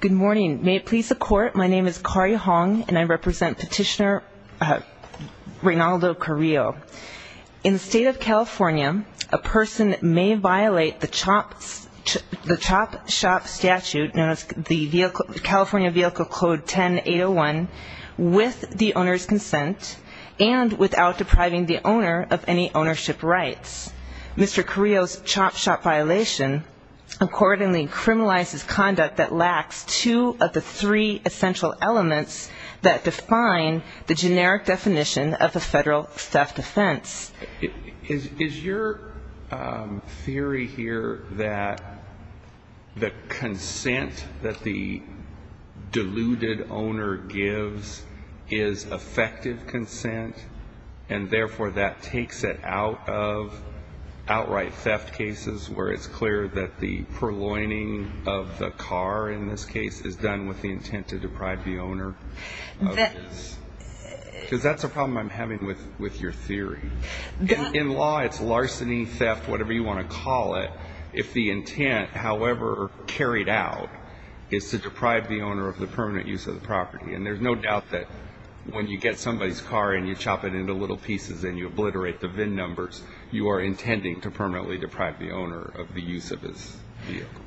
Good morning. May it please the Court, my name is Kari Hong and I represent Petitioner Reynaldo Carrillo. In the state of California, a person may violate the chop shop statute known as the California Vehicle Code 10-801 with the owner's consent and without depriving the owner of any ownership rights. Mr. Carrillo's chop shop violation accordingly criminalizes conduct that lacks two of the three essential elements that define the generic definition of a federal theft offense. Is your theory here that the consent that the deluded owner gives is effective consent and therefore that takes it out of outright theft cases where it's clear that the purloining of the car in this case is done with the intent to deprive the owner? Because that's a problem I'm having with your theory. In law, it's larceny, theft, whatever you want to call it, if the intent, however carried out, is to deprive the owner of the permanent use of the property. And there's no doubt that when you get somebody's car and you chop it into little pieces and you obliterate the VIN numbers, you are intending to permanently deprive the owner of the use of his vehicle.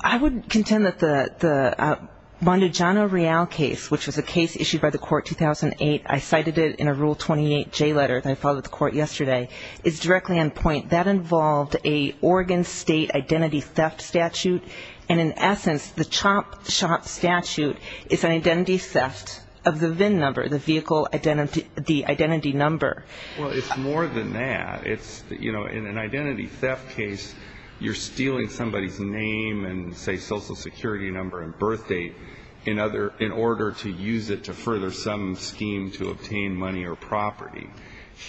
I would contend that the Mondegiano Real case, which was a case issued by the court in 2008, I cited it in a Rule 28J letter that I filed with the court yesterday, is directly on point. That involved an Oregon State identity theft statute. And in essence, the chop shop statute is an identity theft of the VIN number, the vehicle identity number. Well, it's more than that. In an identity theft case, you're stealing somebody's name and, say, social security number and birth date in order to use it to further some scheme to obtain money or property.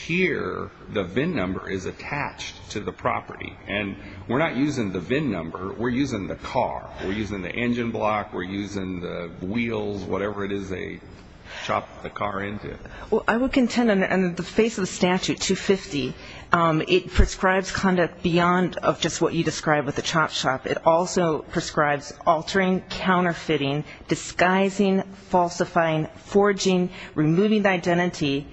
Here, the VIN number is attached to the property. And we're not using the VIN number. We're using the car. We're using the engine block. We're using the wheels, whatever it is they chopped the car into. Well, I would contend in the face of the statute, 250, it prescribes conduct beyond just what you described with the chop shop. It also prescribes altering, counterfeiting, disguising, falsifying, forging, removing the identity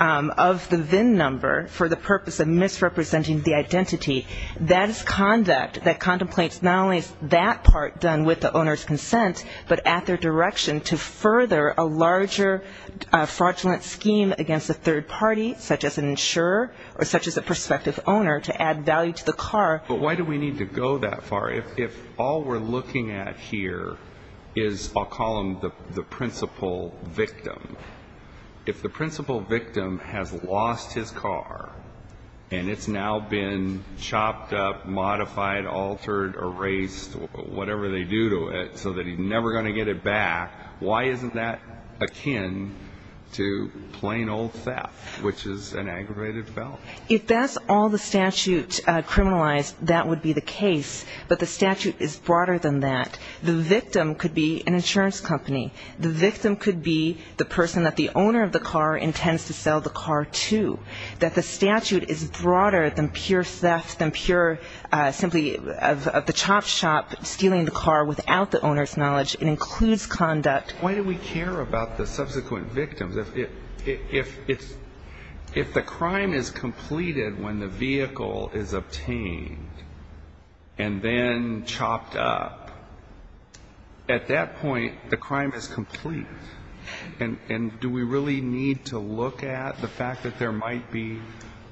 of the VIN number for the purpose of misrepresenting the identity. That is conduct that contemplates not only that part done with the owner's consent, but at their direction to further a larger fraudulent scheme against a third party, such as an insurer or such as a prospective owner, to add value to the car. But why do we need to go that far? If all we're looking at here is I'll call them the principal victim. If the principal victim has lost his car and it's now been chopped up, modified, altered, erased, whatever they do to it so that he's never going to get it back, why isn't that akin to plain old theft, which is an aggravated felony? If that's all the statute criminalized, that would be the case. But the statute is broader than that. The victim could be an insurance company. The victim could be the person that the owner of the car intends to sell the car to. That the statute is broader than pure theft, than pure simply of the chop shop stealing the car without the owner's knowledge. It includes conduct. Why do we care about the subsequent victims? If the crime is completed when the vehicle is obtained and then chopped up, at that point the crime is complete. And do we really need to look at the fact that there might be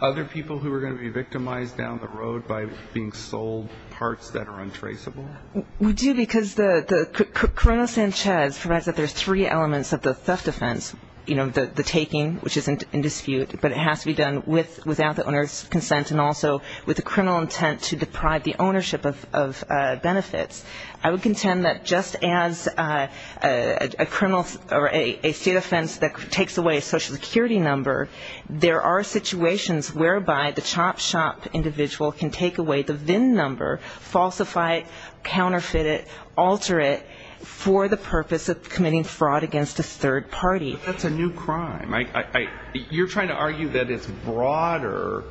other people who are going to be victimized down the road by being sold parts that are untraceable? We do because the criminal Sanchez provides that there's three elements of the theft offense. You know, the taking, which isn't in dispute, but it has to be done without the owner's consent and also with the criminal intent to deprive the ownership of benefits. I would contend that just as a state offense that takes away a social security number, there are situations whereby the chop shop individual can take away the VIN number, falsify it, counterfeit it, alter it for the purpose of committing fraud against a third party. That's a new crime. You're trying to argue that it's broader,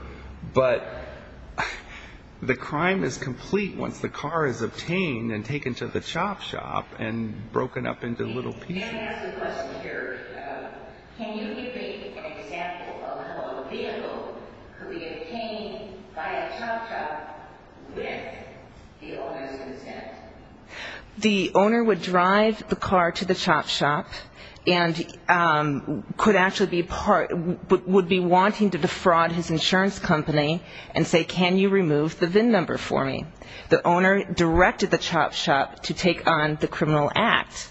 but the crime is complete once the car is obtained and taken to the chop shop and broken up into little pieces. Let me ask a question here. Can you give me an example of how a vehicle could be obtained by a chop shop with the owner's consent? The owner would drive the car to the chop shop and could actually be part of would be wanting to defraud his insurance company and say, can you remove the VIN number for me? The owner directed the chop shop to take on the criminal act,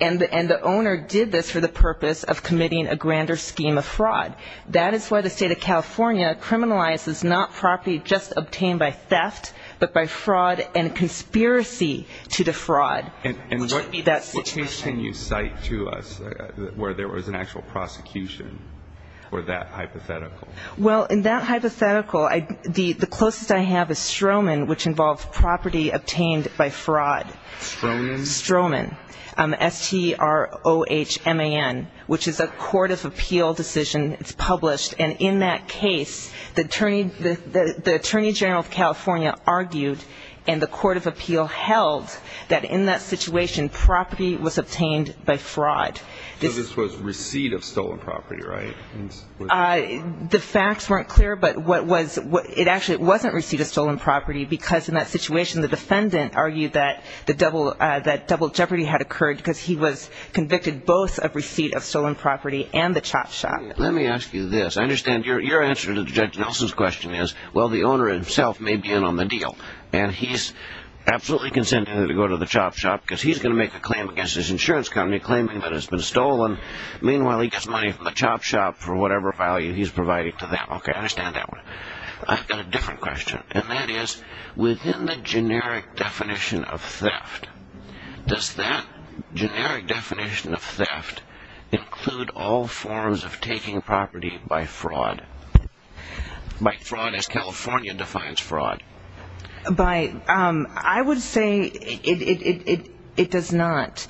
and the owner did this for the purpose of committing a grander scheme of fraud. That is why the state of California criminalizes not property just obtained by theft, but by fraud and conspiracy to defraud, which would be that situation. What case can you cite to us where there was an actual prosecution for that hypothetical? Well, in that hypothetical, the closest I have is Stroman, which involves property obtained by fraud. Stroman? Stroman, S-T-R-O-H-M-A-N, which is a court of appeal decision. It's published. And in that case, the Attorney General of California argued, and the court of appeal held, that in that situation, property was obtained by fraud. So this was receipt of stolen property, right? The facts weren't clear, but it actually wasn't receipt of stolen property, because in that situation, the defendant argued that double jeopardy had occurred because he was convicted both of receipt of stolen property and the chop shop. Let me ask you this. I understand your answer to Judge Nelson's question is, well, the owner himself may be in on the deal, and he's absolutely consenting to go to the chop shop, because he's going to make a claim against his insurance company claiming that it's been stolen. Meanwhile, he gets money from the chop shop for whatever value he's providing to them. Okay, I understand that one. I've got a different question, and that is, within the generic definition of theft, does that generic definition of theft include all forms of taking property by fraud, by fraud as California defines fraud? I would say it does not,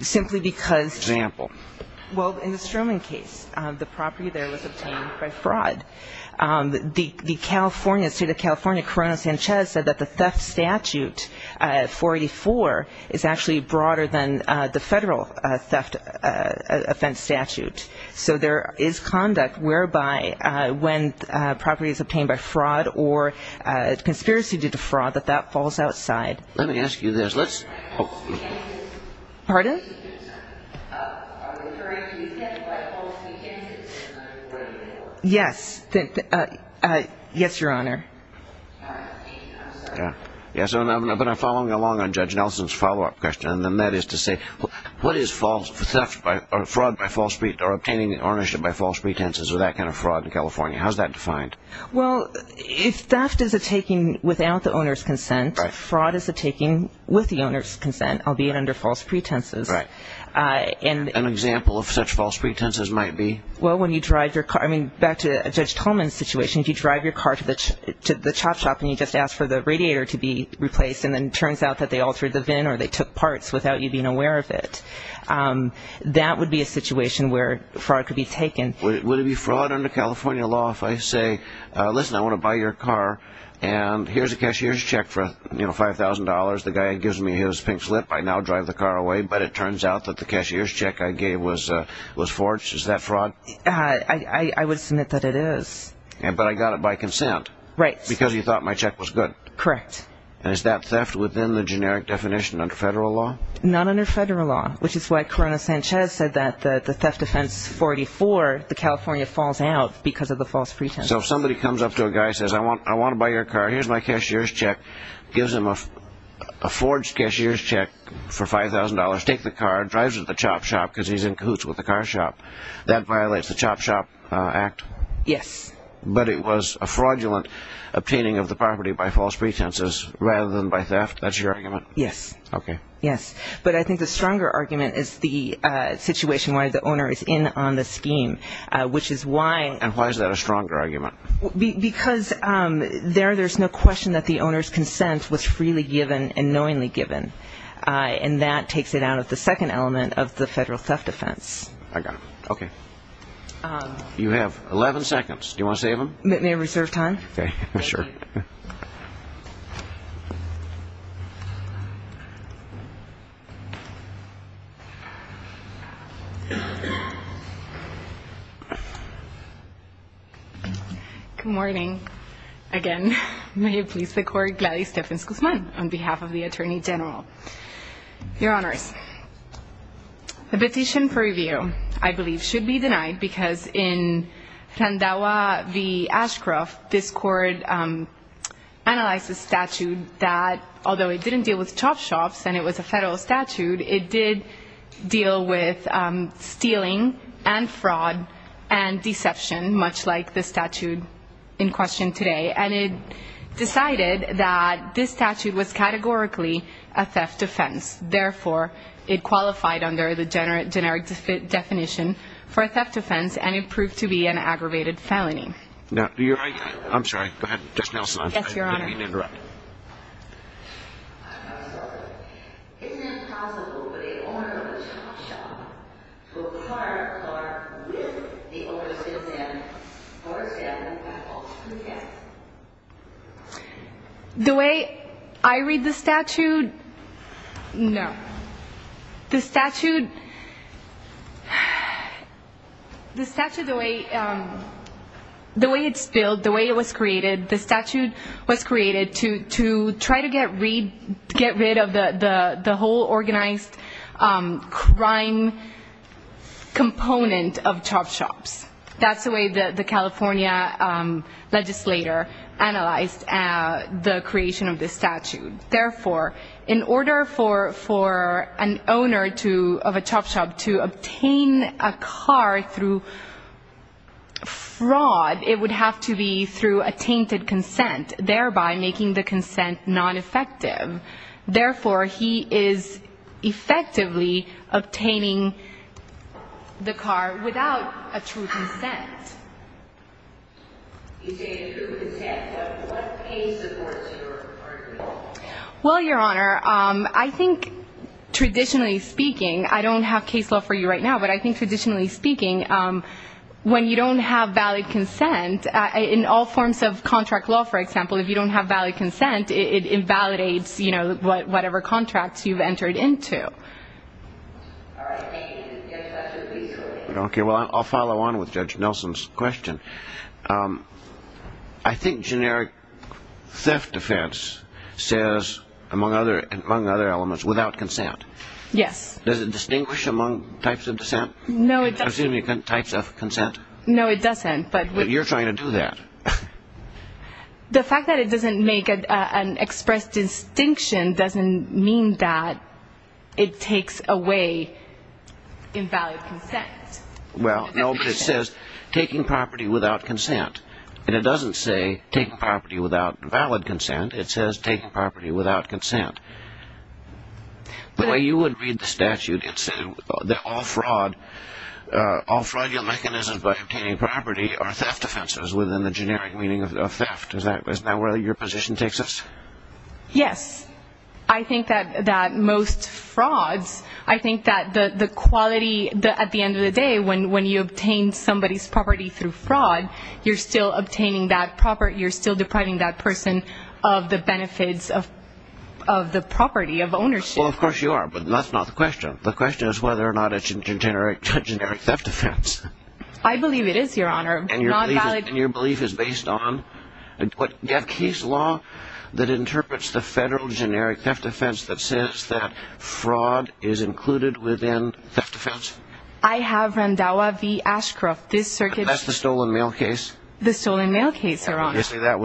simply because. Example. Well, in the Stroman case, the property there was obtained by fraud. The state of California, Corona Sanchez, said that the theft statute, 484, is actually broader than the federal theft offense statute. So there is conduct whereby when property is obtained by fraud or conspiracy due to fraud, that that falls outside. Let me ask you this. Pardon? Yes. Yes, Your Honor. Yes, but I'm following along on Judge Nelson's follow-up question, and that is to say what is fraud by false or obtaining ownership by false pretenses, or that kind of fraud in California? How is that defined? Well, if theft is a taking without the owner's consent, fraud is a taking with the owner's consent, albeit under false pretenses. Right. An example of such false pretenses might be? Well, when you drive your car. I mean, back to Judge Tolman's situation, if you drive your car to the chop shop and you just ask for the radiator to be replaced and then it turns out that they altered the VIN or they took parts without you being aware of it, that would be a situation where fraud could be taken. Would it be fraud under California law if I say, listen, I want to buy your car and here's a cashier's check for $5,000. The guy gives me his pink slip. I now drive the car away, but it turns out that the cashier's check I gave was forged. Is that fraud? I would submit that it is. But I got it by consent. Right. Because you thought my check was good. Correct. And is that theft within the generic definition under federal law? Not under federal law, which is why Corona Sanchez said that the theft offense 44, the California falls out because of the false pretense. So if somebody comes up to a guy and says, I want to buy your car, here's my cashier's check, gives him a forged cashier's check for $5,000, takes the car, drives it to the chop shop because he's in cahoots with the car shop, that violates the chop shop act? Yes. But it was a fraudulent obtaining of the property by false pretenses rather than by theft? That's your argument? Yes. Okay. Yes. But I think the stronger argument is the situation where the owner is in on the scheme, which is why. And why is that a stronger argument? Because there's no question that the owner's consent was freely given and knowingly given. And that takes it out of the second element of the federal theft offense. I got it. Okay. You have 11 seconds. Do you want to save them? May I reserve time? Okay. Sure. Good morning. Again, may it please the Court, Gladys Stephens-Guzman, on behalf of the Attorney General. Your Honors, the petition for review, I believe, should be denied because in Randhawa v. Ashcroft, analyzed the statute that, although it didn't deal with chop shops and it was a federal statute, it did deal with stealing and fraud and deception, much like the statute in question today. And it decided that this statute was categorically a theft offense. Therefore, it qualified under the generic definition for a theft offense, and it proved to be an aggravated felony. Now, I'm sorry. Go ahead, Justice Nelson. Yes, Your Honor. Let me interrupt. I'm sorry. Isn't it possible for the owner of a chop shop to acquire a car with the owner's consent for a theft offense? The way I read the statute, no. The statute, the way it's billed, the way it was created, the statute was created to try to get rid of the whole organized crime component of chop shops. That's the way the California legislator analyzed the creation of this statute. Therefore, in order for an owner of a chop shop to obtain a car through fraud, it would have to be through a tainted consent, thereby making the consent non-effective. Therefore, he is effectively obtaining the car without a true consent. You say a true consent. What case supports your argument? Well, Your Honor, I think traditionally speaking, I don't have case law for you right now, but I think traditionally speaking, when you don't have valid consent, in all forms of contract law, for example, if you don't have valid consent, it invalidates whatever contracts you've entered into. All right. Thank you. If you have a question, please go ahead. Okay. Well, I'll follow on with Judge Nelson's question. I think generic theft defense says, among other elements, without consent. Yes. Does it distinguish among types of dissent? No, it doesn't. Excuse me, types of consent. No, it doesn't. But you're trying to do that. The fact that it doesn't make an expressed distinction doesn't mean that it takes away invalid consent. Well, no, but it says taking property without consent. And it doesn't say taking property without valid consent. It says taking property without consent. The way you would read the statute, it said that all fraud, all fraudulent mechanisms by obtaining property are theft offenses within the generic meaning of theft. Isn't that where your position takes us? Yes. I think that most frauds, I think that the quality, at the end of the day, when you obtain somebody's property through fraud, you're still obtaining that property, you're still depriving that person of the benefits of the property, of ownership. But that's not the question. The question is whether or not it's a generic theft offense. I believe it is, Your Honor. And your belief is based on that case law that interprets the federal generic theft offense that says that fraud is included within theft offense? I have Randhawa v. Ashcroft. That's the stolen mail case? The stolen mail case, Your Honor. Obviously, that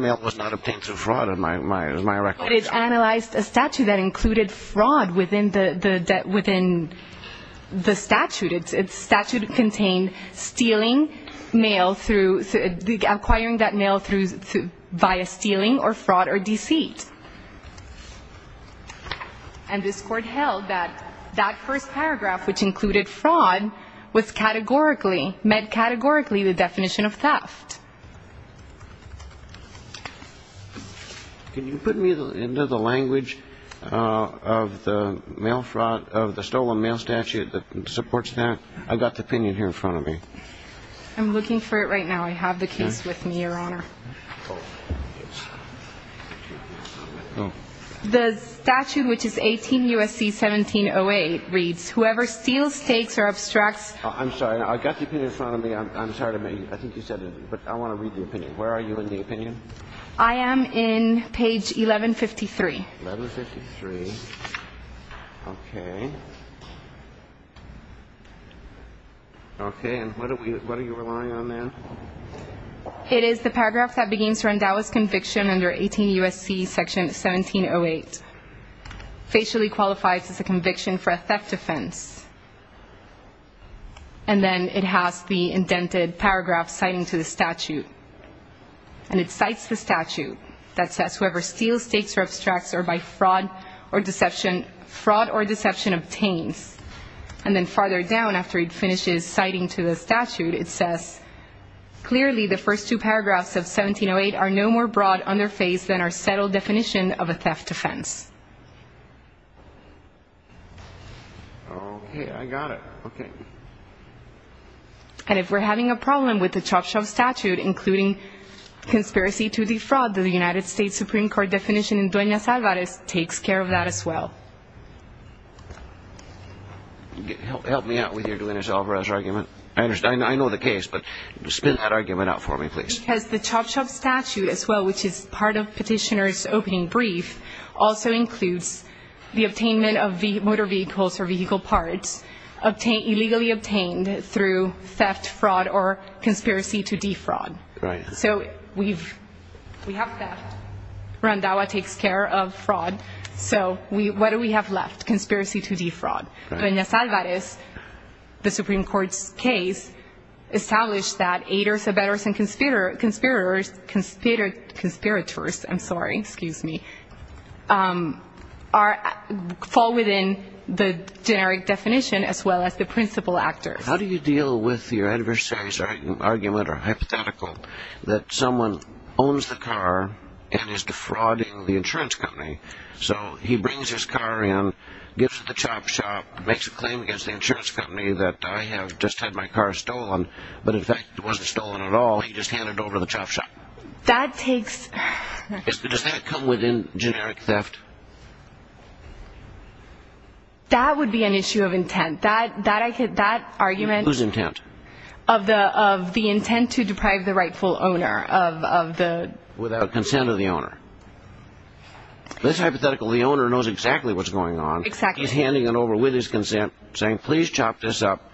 mail was not obtained through fraud on my record. But it analyzed a statute that included fraud within the statute. Its statute contained stealing mail through, acquiring that mail through, via stealing or fraud or deceit. And this Court held that that first paragraph, which included fraud, was categorically, met categorically the definition of theft. Can you put me into the language of the mail fraud, of the stolen mail statute that supports that? I've got the opinion here in front of me. I'm looking for it right now. I have the case with me, Your Honor. The statute, which is 18 U.S.C. 1708, reads, whoever steals, takes, or abstracts. I'm sorry. I've got the opinion in front of me. I'm sorry to make you. I think you said it. But I want to read the opinion. Where are you in the opinion? I am in page 1153. 1153. Okay. Okay. And what are you relying on there? It is the paragraph that begins Randhawa's conviction under 18 U.S.C. section 1708. Facially qualifies as a conviction for a theft offense. And then it has the indented paragraph citing to the statute. And it cites the statute that says, whoever steals, takes, or abstracts, or by fraud or deception obtains. And then farther down, after it finishes citing to the statute, it says, clearly the first two paragraphs of 1708 are no more broad under phase than our settled definition of a theft offense. Okay. I got it. Okay. And if we're having a problem with the chop-chop statute, including conspiracy to defraud the United States Supreme Court definition in Dueñas Alvarez, takes care of that as well. Help me out with your Dueñas Alvarez argument. I understand. I know the case. But spin that argument out for me, please. Because the chop-chop statute as well, which is part of Petitioner's opening brief, also includes the obtainment of motor vehicles or vehicle parts illegally obtained through theft, fraud, or conspiracy to defraud. Right. So we have theft. Randhawa takes care of fraud. So what do we have left? Conspiracy to defraud. Dueñas Alvarez, the Supreme Court's case, established that aiders, abettors, and conspirators, I'm sorry, excuse me, fall within the generic definition as well as the principal actors. How do you deal with your adversary's argument or hypothetical that someone owns the car and is defrauding the insurance company? So he brings his car in, gives it to the chop-shop, makes a claim against the insurance company that I have just had my car stolen, but, in fact, it wasn't stolen at all. He just handed it over to the chop-shop. That takes – Does that come within generic theft? That would be an issue of intent. That argument – Whose intent? Of the intent to deprive the rightful owner of the – Without consent of the owner. This hypothetical, the owner knows exactly what's going on. Exactly. He's handing it over with his consent, saying, please chop this up.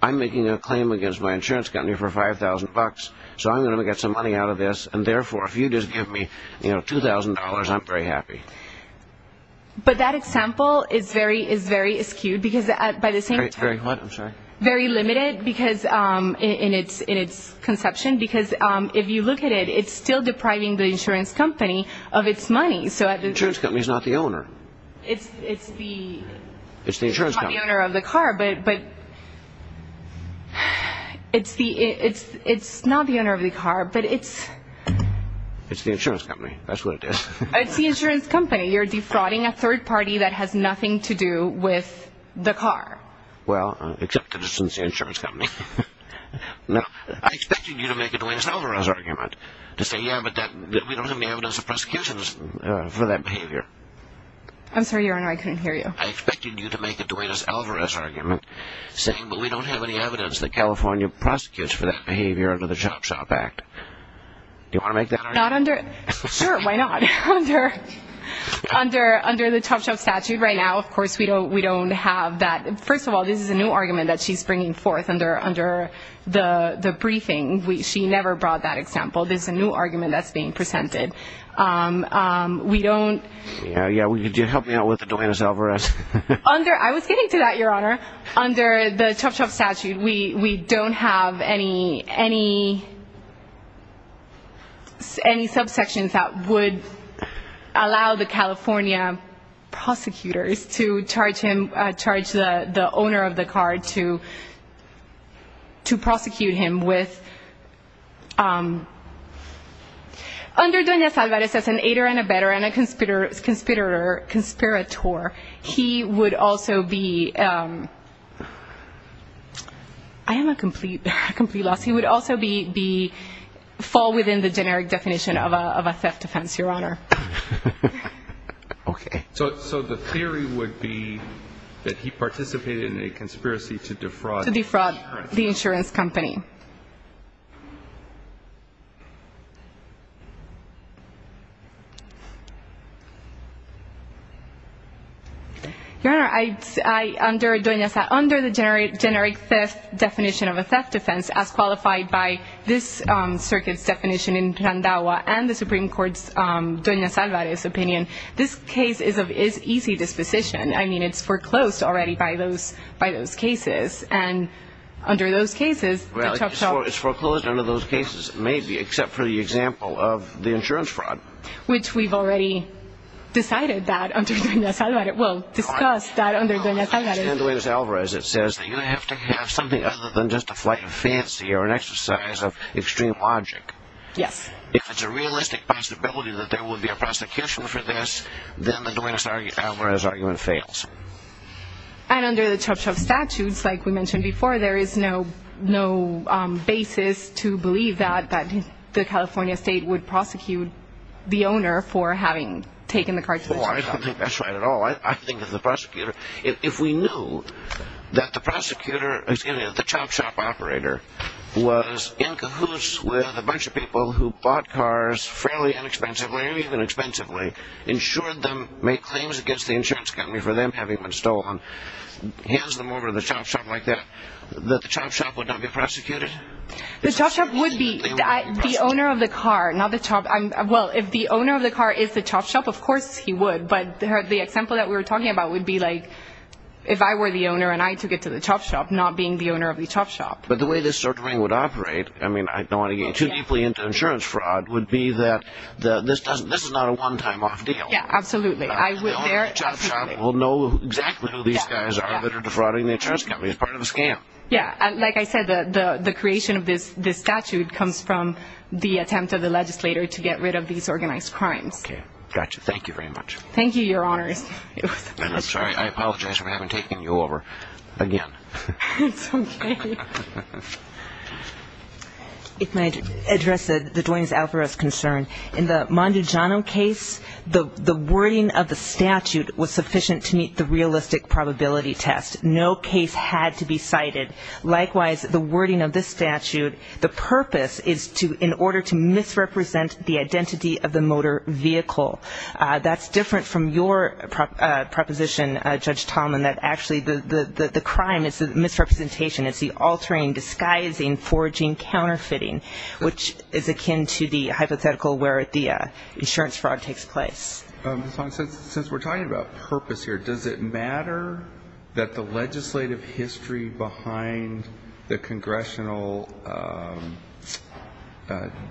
I'm making a claim against my insurance company for $5,000, so I'm going to get some money out of this, and, therefore, if you just give me $2,000, I'm very happy. But that example is very skewed, because by the same time – Very what? I'm sorry. Very limited in its conception, because if you look at it, it's still depriving the insurance company of its money. The insurance company is not the owner. It's the – It's the insurance company. It's not the owner of the car, but – It's the – It's not the owner of the car, but it's – It's the insurance company. That's what it is. It's the insurance company. You're defrauding a third party that has nothing to do with the car. Well, except that it's the insurance company. Now, I expected you to make a Duenas-Alvarez argument to say, yeah, but we don't have any evidence of prosecution for that behavior. I'm sorry, Your Honor. I couldn't hear you. I expected you to make a Duenas-Alvarez argument saying, well, we don't have any evidence that California prosecutes for that behavior under the CHOP-CHOP Act. Do you want to make that argument? Not under – Sure, why not? Under the CHOP-CHOP statute right now, of course, we don't have that. First of all, this is a new argument that she's bringing forth under the briefing. She never brought that example. This is a new argument that's being presented. We don't – Yeah, would you help me out with the Duenas-Alvarez? I was getting to that, Your Honor. Under the CHOP-CHOP statute, we don't have any subsections that would allow the California prosecutors to charge the owner of the car to prosecute him with – Under Duenas-Alvarez, as an aider and a better and a conspirator, he would also be – I am at complete loss. He would also be – fall within the generic definition of a theft offense, Your Honor. Okay. So the theory would be that he participated in a conspiracy to defraud – To defraud the insurance company. Your Honor, under Duenas – under the generic theft definition of a theft offense, as qualified by this circuit's definition in Randagua and the Supreme Court's Duenas-Alvarez opinion, this case is of easy disposition. I mean, it's foreclosed already by those cases. And under those cases, the CHOP-CHOP – Well, it's foreclosed under those cases, maybe, except for the example of the insurance fraud. Which we've already decided that under Duenas-Alvarez – well, discussed that under Duenas-Alvarez. I understand Duenas-Alvarez. It says that you have to have something other than just a flight of fancy or an exercise of extreme logic. Yes. If it's a realistic possibility that there would be a prosecution for this, then the Duenas-Alvarez argument fails. And under the CHOP-CHOP statutes, like we mentioned before, there is no basis to believe that the California state would prosecute the owner for having taken the car to the CHOP-CHOP. Oh, I don't think that's right at all. If we knew that the CHOP-CHOP operator was in cahoots with a bunch of people who bought cars fairly inexpensively or even expensively, insured them, made claims against the insurance company for them having been stolen, hands them over to the CHOP-CHOP like that, that the CHOP-CHOP would not be prosecuted? The CHOP-CHOP would be the owner of the car, not the CHOP. Well, if the owner of the car is the CHOP-CHOP, of course he would. But the example that we were talking about would be like, if I were the owner and I took it to the CHOP-CHOP, not being the owner of the CHOP-CHOP. But the way this sort of thing would operate, I mean, I don't want to get too deeply into insurance fraud, would be that this is not a one-time-off deal. Yeah, absolutely. The owner of the CHOP-CHOP will know exactly who these guys are that are defrauding the insurance company. It's part of a scam. Yeah, like I said, the creation of this statute comes from the attempt of the legislator to get rid of these organized crimes. Okay, gotcha. Thank you very much. Thank you, Your Honors. I'm sorry, I apologize for having taken you over again. It's okay. If I could address the Duane Alvarez concern. In the Mondigiano case, the wording of the statute was sufficient to meet the realistic probability test. No case had to be cited. Likewise, the wording of this statute, the purpose is in order to misrepresent the identity of the motor vehicle. That's different from your proposition, Judge Tallman, that actually the crime is the misrepresentation. It's the altering, disguising, forging, counterfeiting, which is akin to the hypothetical where the insurance fraud takes place. Since we're talking about purpose here, does it matter that the legislative history behind the congressional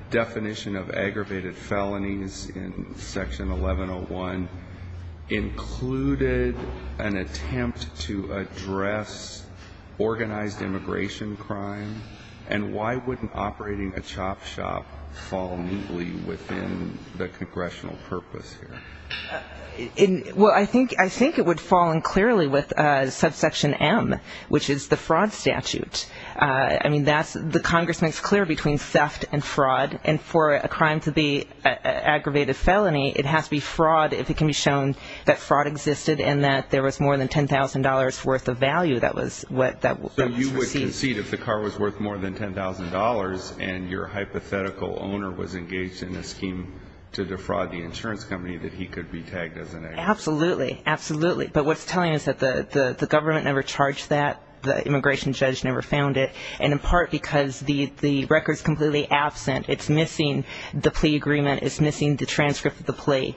definition of aggravated felonies in Section 1101 included an attempt to address organized immigration crime? And why wouldn't operating a chop shop fall neatly within the congressional purpose here? Well, I think it would fall in clearly with Subsection M, which is the fraud statute. I mean, the Congress makes clear between theft and fraud. And for a crime to be an aggravated felony, it has to be fraud if it can be shown that fraud existed and that there was more than $10,000 worth of value that was received. So you would concede if the car was worth more than $10,000, and your hypothetical owner was engaged in a scheme to defraud the insurance company, that he could be tagged as an aggravated felon? Absolutely, absolutely. But what it's telling us is that the government never charged that, the immigration judge never found it, and in part because the record is completely absent. It's missing the plea agreement. It's missing the transcript of the plea.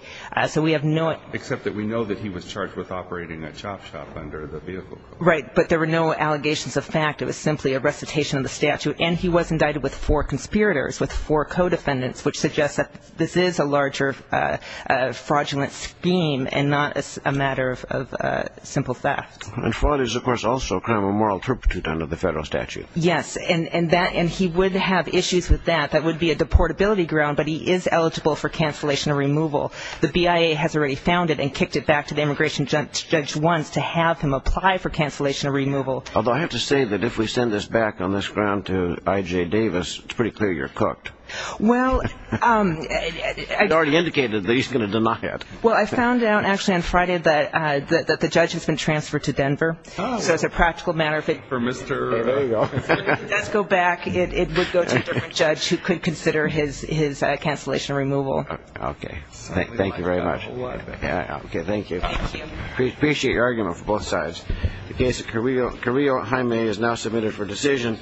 So we have no idea. Except that we know that he was charged with operating a chop shop under the vehicle code. Right, but there were no allegations of fact. It was simply a recitation of the statute. And he was indicted with four conspirators, with four co-defendants, which suggests that this is a larger fraudulent scheme and not a matter of simple theft. And fraud is, of course, also a crime of moral turpitude under the federal statute. Yes, and he would have issues with that. That would be a deportability ground, but he is eligible for cancellation or removal. The BIA has already found it and kicked it back to the immigration judge once to have him apply for cancellation or removal. Although I have to say that if we send this back on this ground to I.J. Davis, it's pretty clear you're cooked. Well, I've already indicated that he's going to deny it. Well, I found out actually on Friday that the judge has been transferred to Denver. So as a practical matter, if it does go back, it would go to a different judge who could consider his cancellation or removal. Okay. Thank you very much. Okay. Thank you. Appreciate your argument from both sides. The case of Carrillo-Jaime is now submitted for decision.